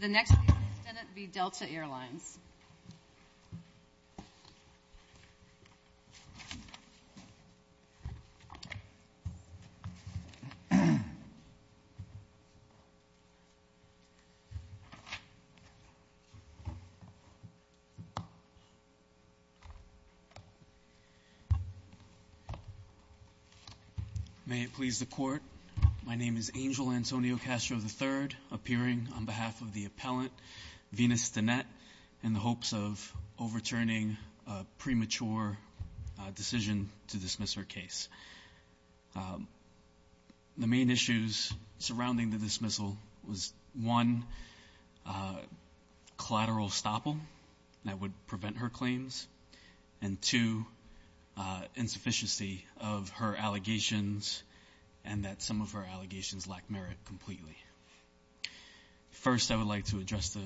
The next case, Stinnett v. Delta Air Lines. May it please the Court, my name is Angel Antonio Castro III, appearing on behalf of the appellant, Venus Stinnett, in the hopes of overturning a premature decision to dismiss her case. The main issues surrounding the dismissal was, one, collateral estoppel that would prevent her claims, and two, insufficiency of her allegations and that some of her allegations lack merit completely. First, I would like to address the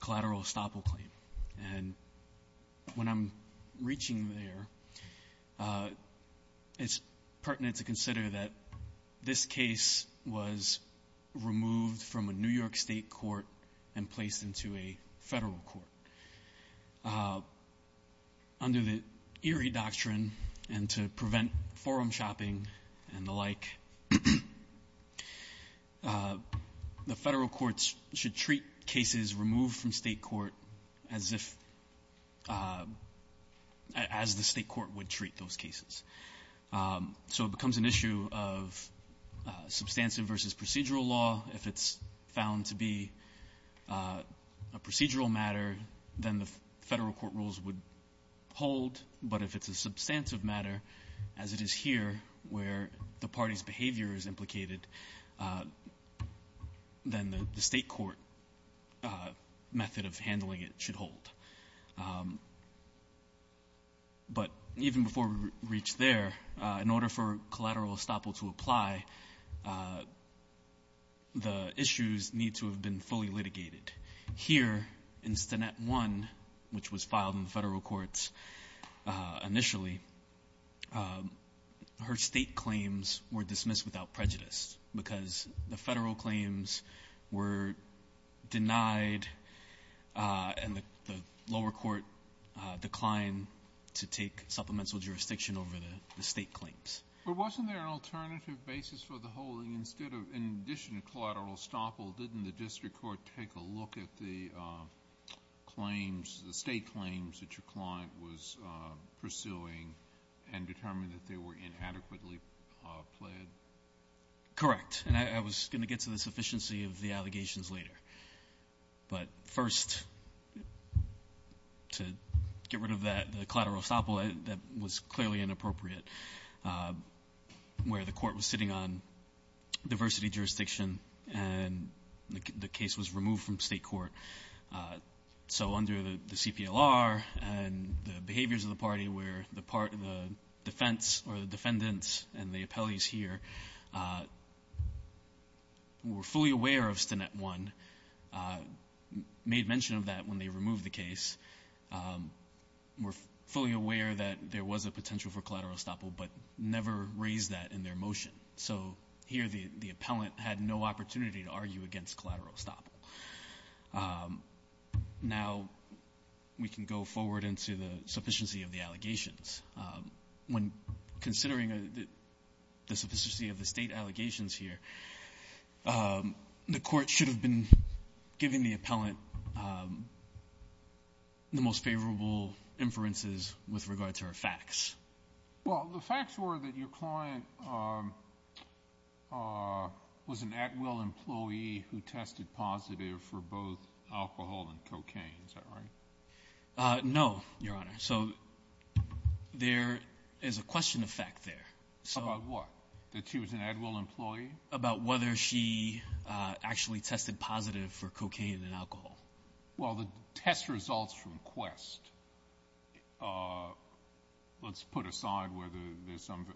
collateral estoppel claim, and when I'm reaching there, it's pertinent to consider that this case was removed from a New York State court and placed into a federal court. Under the Erie Doctrine, and to prevent forum shopping and the like, the federal courts should treat cases removed from state court as if, as the state court would treat those cases. So, it becomes an issue of substantive versus procedural law, if it's found to be a procedural matter, then the federal court rules would hold, but if it's a substantive matter, as it is here, where the party's behavior is implicated, then the state court method of handling it should hold. But even before we reach there, in order for collateral estoppel to apply, the issues need to have been fully litigated. Here, in Stannett 1, which was filed in the federal courts initially, her state claims were dismissed without prejudice, because the federal claims were denied and the lower court declined to take supplemental jurisdiction over the state claims. But wasn't there an alternative basis for the holding, instead of, in addition to collateral estoppel, didn't the district court take a look at the claims, the state claims that your client was pursuing, and determine that they were inadequately pled? Correct. And I was going to get to the sufficiency of the allegations later. But first, to get rid of that, the collateral estoppel, that was clearly inappropriate. But where the court was sitting on diversity jurisdiction, and the case was removed from state court. So under the CPLR, and the behaviors of the party, where the defense or the defendants and the appellees here were fully aware of Stannett 1, made mention of that when they never raised that in their motion. So here the appellant had no opportunity to argue against collateral estoppel. Now we can go forward into the sufficiency of the allegations. When considering the sufficiency of the state allegations here, the court should have been giving the appellant the most favorable inferences with regard to her facts. Well, the facts were that your client was an at-will employee who tested positive for both alcohol and cocaine, is that right? No, your honor. So there is a question of fact there. About what? That she was an at-will employee? About whether she actually tested positive for cocaine and alcohol. Well, the test results from Quest, let's put aside whether there's some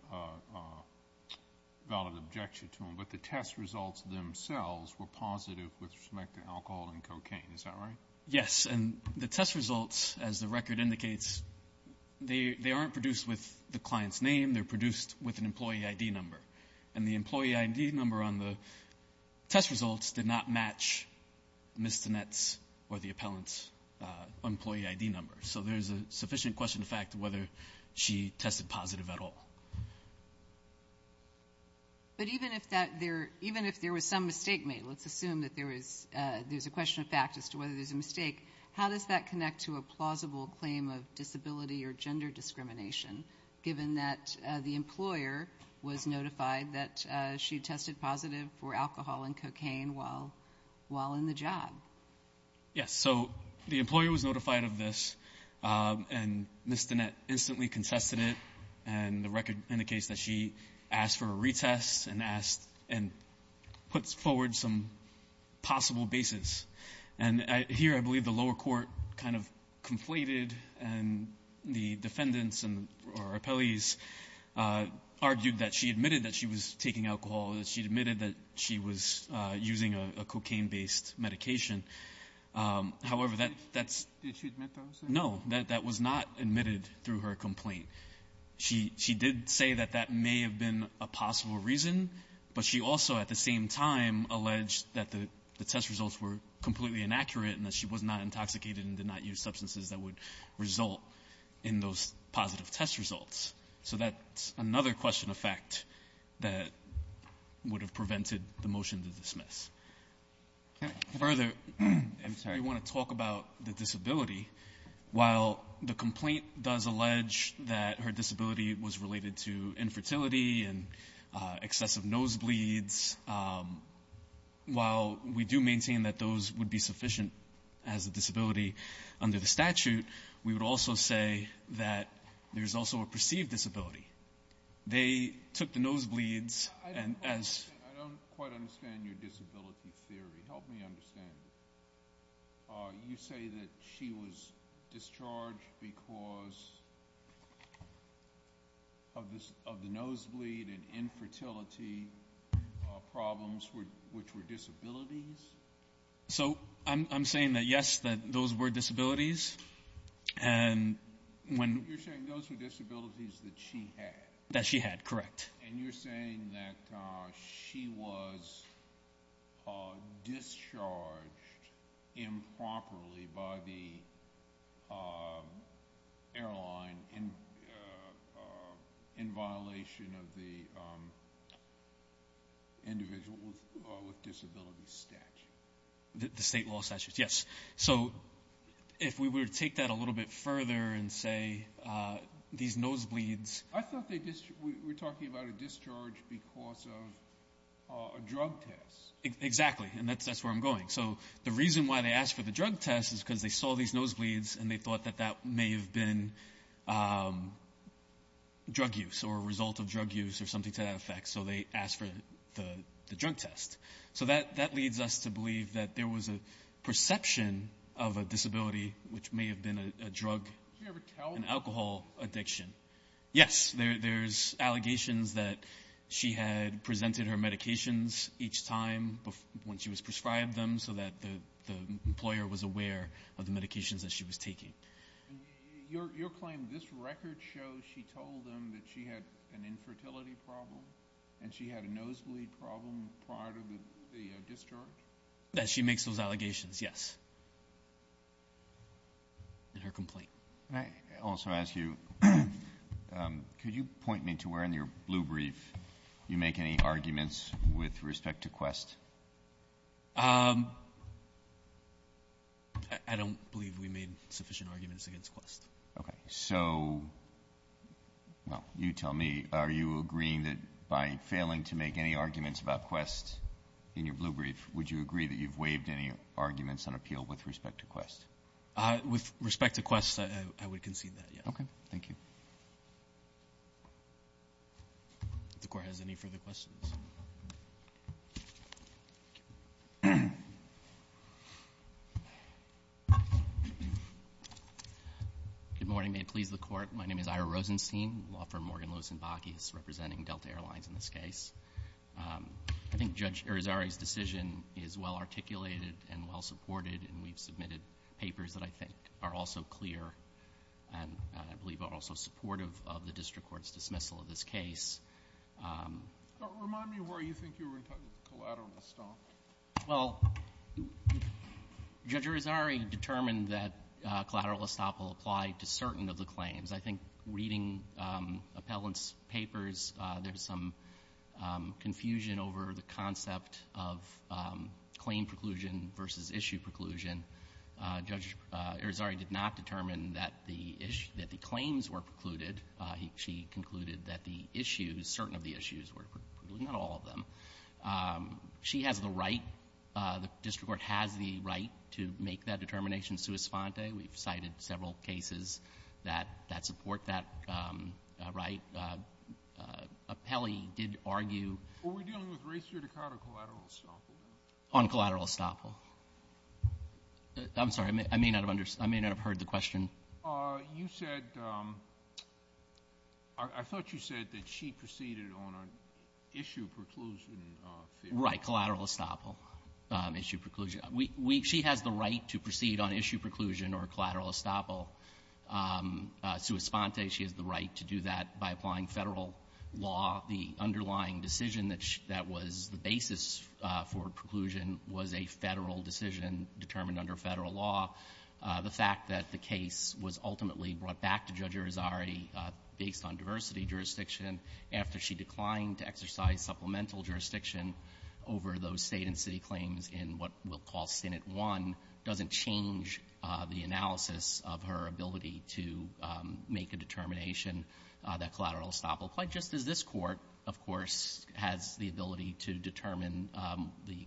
valid objection to them, but the test results themselves were positive with respect to alcohol and cocaine, is that right? Yes, and the test results, as the record indicates, they aren't produced with the client's name, they're produced with an employee ID number. And the employee ID number on the test results did not match Ms. Donnette's or the appellant's employee ID number. So there's a sufficient question of fact whether she tested positive at all. But even if there was some mistake made, let's assume that there's a question of fact as to whether there's a mistake, how does that connect to a plausible claim of disability or gender discrimination, given that the employer was notified that she tested positive for alcohol and cocaine while in the job? Yes, so the employer was notified of this, and Ms. Donnette instantly contested it, and the record indicates that she asked for a retest and asked, and put forward some possible basis. And here I believe the lower court kind of conflated and the defendants and our appellees argued that she admitted that she was taking alcohol, that she admitted that she was using a cocaine-based medication. However, that's no. That was not admitted through her complaint. She did say that that may have been a possible reason, but she also at the same time alleged that the test results were completely inaccurate and that she was not intoxicated and did not use substances that would result in those positive test results. So that's another question of fact that would have prevented the motion to dismiss. Further, if you want to talk about the disability, while the complaint does allege that her disability was related to infertility and excessive nosebleeds, while we do maintain that those would be sufficient as a disability under the statute, we would also say that there's also a perceived disability. They took the nosebleeds and as... I don't quite understand your disability theory. Help me understand. You say that she was discharged because of the nosebleed and infertility problems, which were disabilities? So I'm saying that, yes, that those were disabilities and when... You're saying those were disabilities that she had. That she had, correct. And you're saying that she was discharged improperly by the airline in violation of the individual with disability statute. The state law statute, yes. So if we were to take that a little bit further and say these nosebleeds... I thought we were talking about a discharge because of a drug test. Exactly, and that's where I'm going. So the reason why they asked for the drug test is because they saw these nosebleeds and they thought that that may have been drug use or a result of drug use or something to that effect. So they asked for the drug test. So that leads us to believe that there was a perception of a disability, which may have been a drug and alcohol addiction. Yes, there's allegations that she had presented her medications each time when she was prescribed them so that the employer was aware of the medications that she was taking. Your claim, this record shows she told them that she had an infertility problem and she had a nosebleed problem prior to the discharge? That she makes those allegations, yes, in her complaint. Can I also ask you, could you point me to where in your blue brief you make any arguments with respect to Quest? I don't believe we made sufficient arguments against Quest. Okay. So you tell me, are you agreeing that by failing to make any arguments about Quest in your blue brief, would you agree that you've waived any arguments on appeal with respect to Quest? With respect to Quest, I would concede that, yes. Okay. Thank you. If the Court has any further questions. Good morning. May it please the Court. My name is Ira Rosenstein, law firm Morgan, Lewis & Bakke, representing Delta Airlines in this case. I think Judge Irizarry's decision is well-articulated and well-supported, and we've submitted papers that I think are also clear and I believe are also supportive of the district court's dismissal of this case. Remind me where you think you were in terms of collateral estoppel. Well, Judge Irizarry determined that collateral estoppel applied to certain of the claims. I think reading appellant's papers, there's some confusion over the concept of claim preclusion versus issue preclusion. Judge Irizarry did not determine that the claims were precluded. She concluded that the issues, certain of the issues were precluded, not all of them. She has the right, the district court has the right to make that determination sui sponte. We've cited several cases that support that right. Appellee did argue ---- Were we dealing with race judicata or collateral estoppel? On collateral estoppel. I'm sorry. I may not have understood. I may not have heard the question. You said ---- I thought you said that she proceeded on an issue preclusion fee. Right. Collateral estoppel, issue preclusion. She has the right to proceed on issue preclusion or collateral estoppel sui sponte. She has the right to do that by applying Federal law. The underlying decision that was the basis for preclusion was a Federal decision determined under Federal law. The fact that the case was ultimately brought back to Judge Irizarry based on diversity jurisdiction after she declined to exercise supplemental jurisdiction over those State and city claims in what we'll call Senate 1 doesn't change the analysis of her ability to make a determination that collateral estoppel, quite just as this Court, of course, has the ability to determine the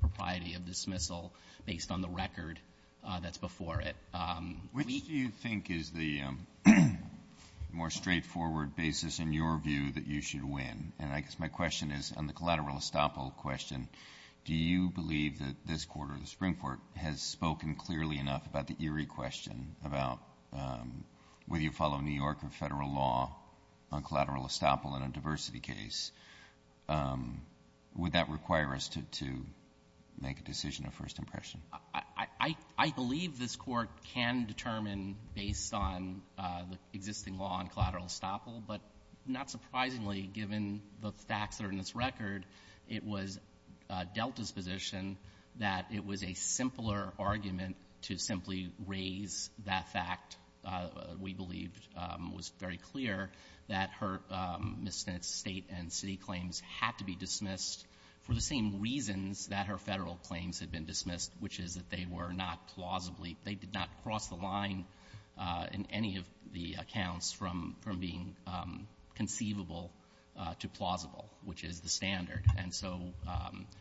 propriety of dismissal based on the record that's before it. Which do you think is the more straightforward basis in your view that you should And I guess my question is, on the collateral estoppel question, do you believe that this Court or the Supreme Court has spoken clearly enough about the Erie question about whether you follow New York or Federal law on collateral estoppel in a diversity case? Would that require us to make a decision of first impression? I believe this Court can determine based on the existing law on collateral estoppel, but not surprisingly, given the facts that are in this record, it was Delta's position that it was a simpler argument to simply raise that fact. We believed it was very clear that her misdemeanor State and city claims had to be dismissed for the same reasons that her Federal claims had been dismissed, which is that they were not plausibly they did not cross the line in any of the accounts from being conceivable to plausible, which is the standard. And so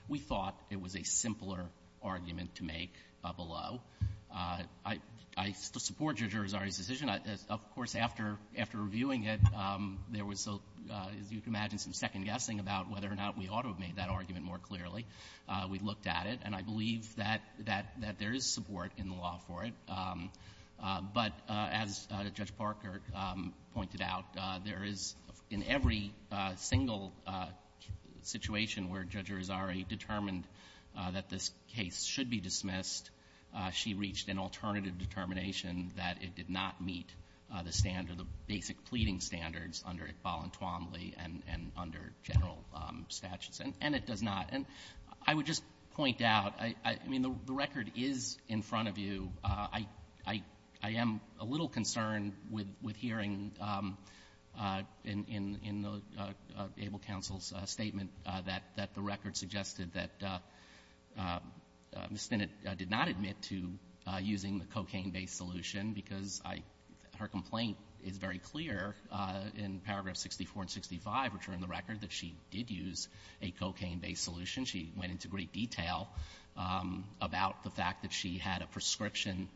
we thought it was a simpler argument to make below. I support your jurisdiction. Of course, after reviewing it, there was, as you can imagine, some second guessing about whether or not we ought to have made that argument more clearly. We looked at it, and I believe that there is support in the law for it. But as Judge Parker pointed out, there is, in every single situation where Judge Rosari determined that this case should be dismissed, she reached an alternative determination that it did not meet the standard, the basic pleading standards under Iqbal and Twombly and under general statutes, and it does not. And I would just point out, I mean, the record is in front of you. I am a little concerned with hearing in the able counsel's statement that the record suggested that Ms. Spinnett did not admit to using the cocaine-based solution because I — her complaint is very clear in paragraph 64 and 65, which are in the record, that she did use a cocaine-based solution. She went into great detail about the fact that she had a prescription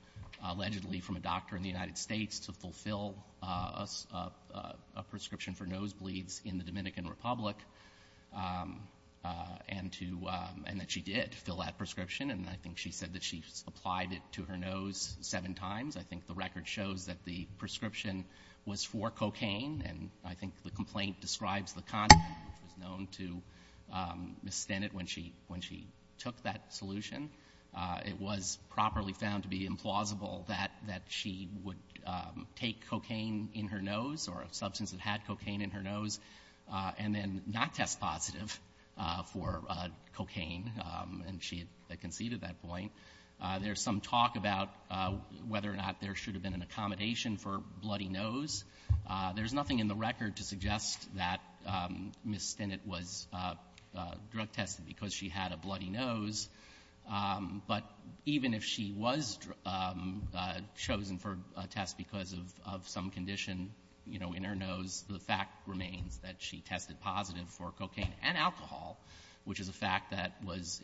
allegedly from a doctor in the United States to fulfill a prescription for nosebleeds in the Dominican Republic, and to — and that she did fill that prescription. And I think she said that she applied it to her nose seven times. I think the record shows that the prescription was for cocaine. And I think the complaint describes the content, which was known to Ms. Spinnett when she took that solution. It was properly found to be implausible that she would take cocaine in her nose or a substance that had cocaine in her nose and then not test positive for cocaine. And she had conceded that point. There's some talk about whether or not there should have been an accommodation for bloody nose. There's nothing in the record to suggest that Ms. Spinnett was drug-tested because she had a bloody nose. But even if she was chosen for a test because of some condition, you know, in her nose, the fact remains that she tested positive for cocaine and alcohol, which is a fact that is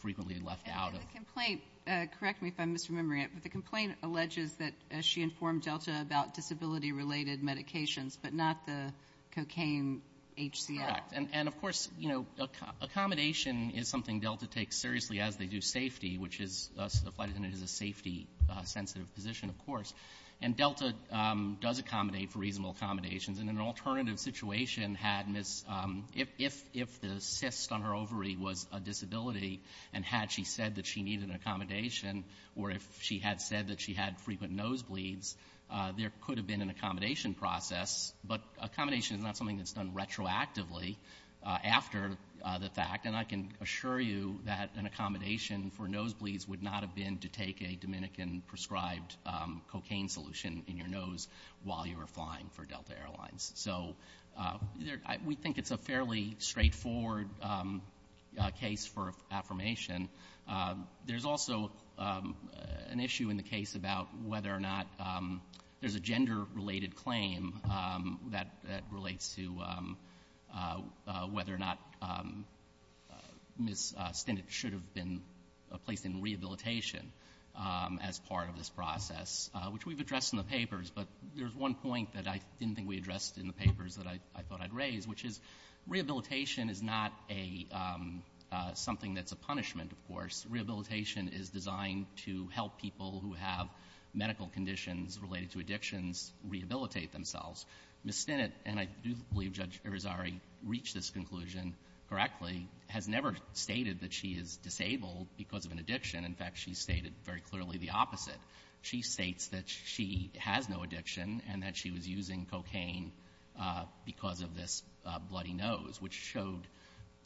frequently left out. And the complaint — correct me if I'm misremembering it — but the complaint alleges that she informed Delta about disability-related medications but not the cocaine HCL. Correct. And, of course, you know, accommodation is something Delta takes seriously as they do safety, which is — the flight attendant is a safety-sensitive position, of course. And Delta does accommodate for reasonable accommodations. And an alternative situation had Ms. — if the cyst on her ovary was a disability and had she said that she needed an accommodation or if she had said that she had frequent nosebleeds, there could have been an accommodation process. But accommodation is not something that's done retroactively after the fact. And I can assure you that an accommodation for nosebleeds would not have been to take a Dominican-prescribed cocaine solution in your nose while you were flying for Delta Airlines. So we think it's a fairly straightforward case for affirmation. There's also an issue in the case about whether or not there's a gender-related claim that relates to whether or not Ms. Stinnett should have been placed in rehabilitation as part of this process, which we've addressed in the papers. But there's one point that I didn't think we addressed in the papers that I thought I'd raise, which is rehabilitation is not a — something that's a punishment, of course. Rehabilitation is designed to help people who have medical conditions related to addictions rehabilitate themselves. Ms. Stinnett, and I do believe Judge Irizarry reached this conclusion correctly, has never stated that she is disabled because of an addiction. In fact, she's stated very clearly the opposite. She states that she has no addiction and that she was using cocaine because of this bloody nose, which showed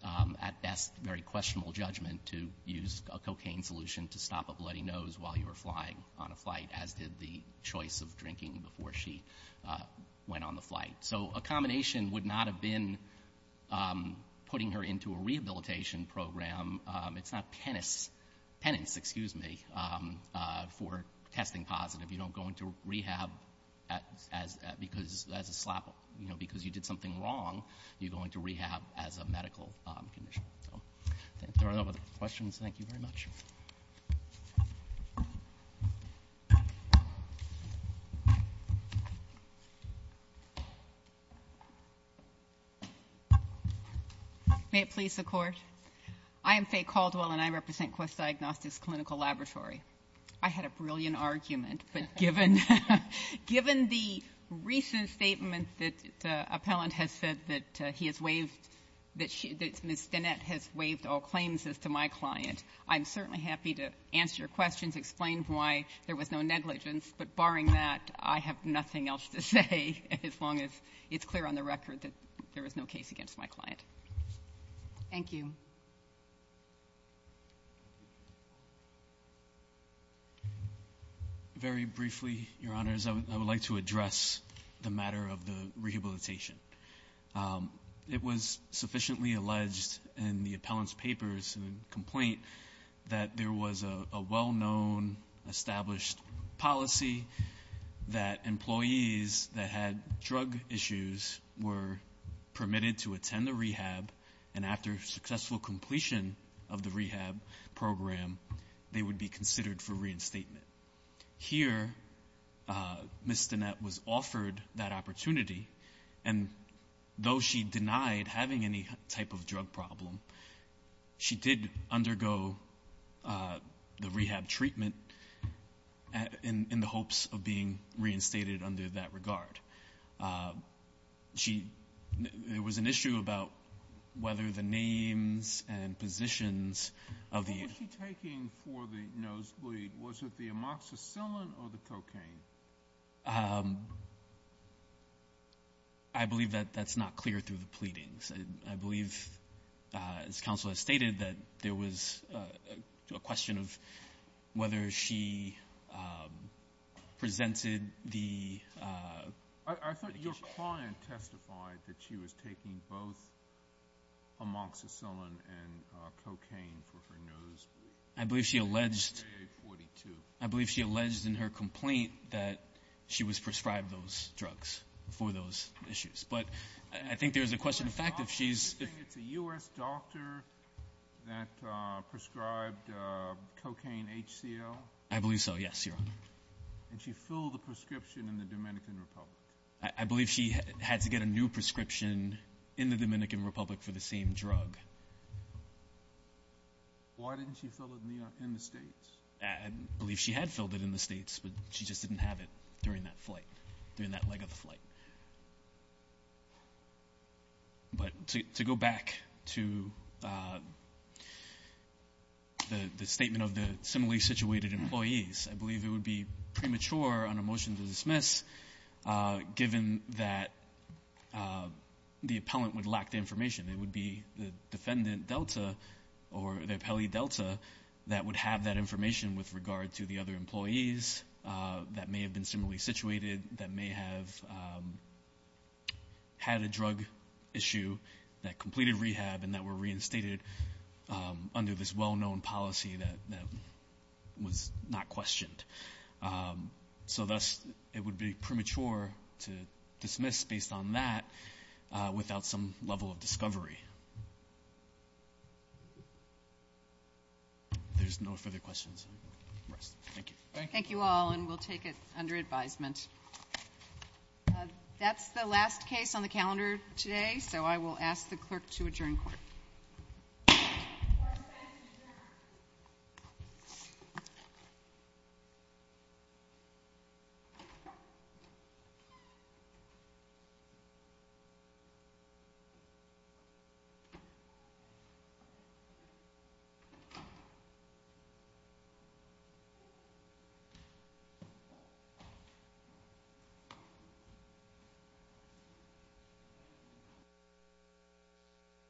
at best very questionable judgment to use a cocaine solution to stop a bloody nose while you were flying on a flight, as did the choice of drinking before she went on the flight. So a combination would not have been putting her into a rehabilitation program. It's not penance for testing positive. You don't go into rehab because you did something wrong. You go into rehab as a medical condition. There are no other questions. Thank you very much. May it please the Court. I am Faye Caldwell, and I represent Quest Diagnostics Clinical Laboratory. I had a brilliant argument, but given the recent statement that an appellant has said that he has waived that Ms. Danette has waived all claims as to my client, I'm certainly happy to answer your questions, explain why there was no negligence. But barring that, I have nothing else to say as long as it's clear on the record that there was no case against my client. Thank you. Very briefly, Your Honors, I would like to address the matter of the rehabilitation. It was sufficiently alleged in the appellant's papers and complaint that there was a well-known established policy that employees that had drug issues were permitted to attend the rehab, and after successful completion of the rehab program, they would be considered for reinstatement. Here, Ms. Danette was offered that opportunity, and though she denied having any type of drug problem, she did undergo the rehab treatment in the hopes of being reinstated under that regard. There was an issue about whether the names and positions of the employees was it the amoxicillin or the cocaine? I believe that that's not clear through the pleadings. I believe, as counsel has stated, that there was a question of whether she presented the medication. I thought your client testified that she was taking both amoxicillin and cocaine for her nosebleed. I believe she alleged in her complaint that she was prescribed those drugs for those issues, but I think there's a question of fact if she's – Do you think it's a U.S. doctor that prescribed cocaine HCL? I believe so, yes, Your Honor. Did she fill the prescription in the Dominican Republic? I believe she had to get a new prescription in the Dominican Republic for the same drug. Okay. Why didn't she fill it in the States? I believe she had filled it in the States, but she just didn't have it during that flight, during that leg of the flight. But to go back to the statement of the similarly situated employees, I believe it would be premature on a motion to dismiss given that the appellant would lack the information. It would be the defendant, Delta, or the appellee, Delta, that would have that information with regard to the other employees that may have been similarly situated, that may have had a drug issue, that completed rehab, and that were reinstated under this well-known policy that was not questioned. So thus, it would be premature to dismiss based on that without some level of discovery. There's no further questions. Thank you. Thank you all, and we'll take it under advisement. That's the last case on the calendar today, so I will ask the clerk to adjourn court. Court is adjourned.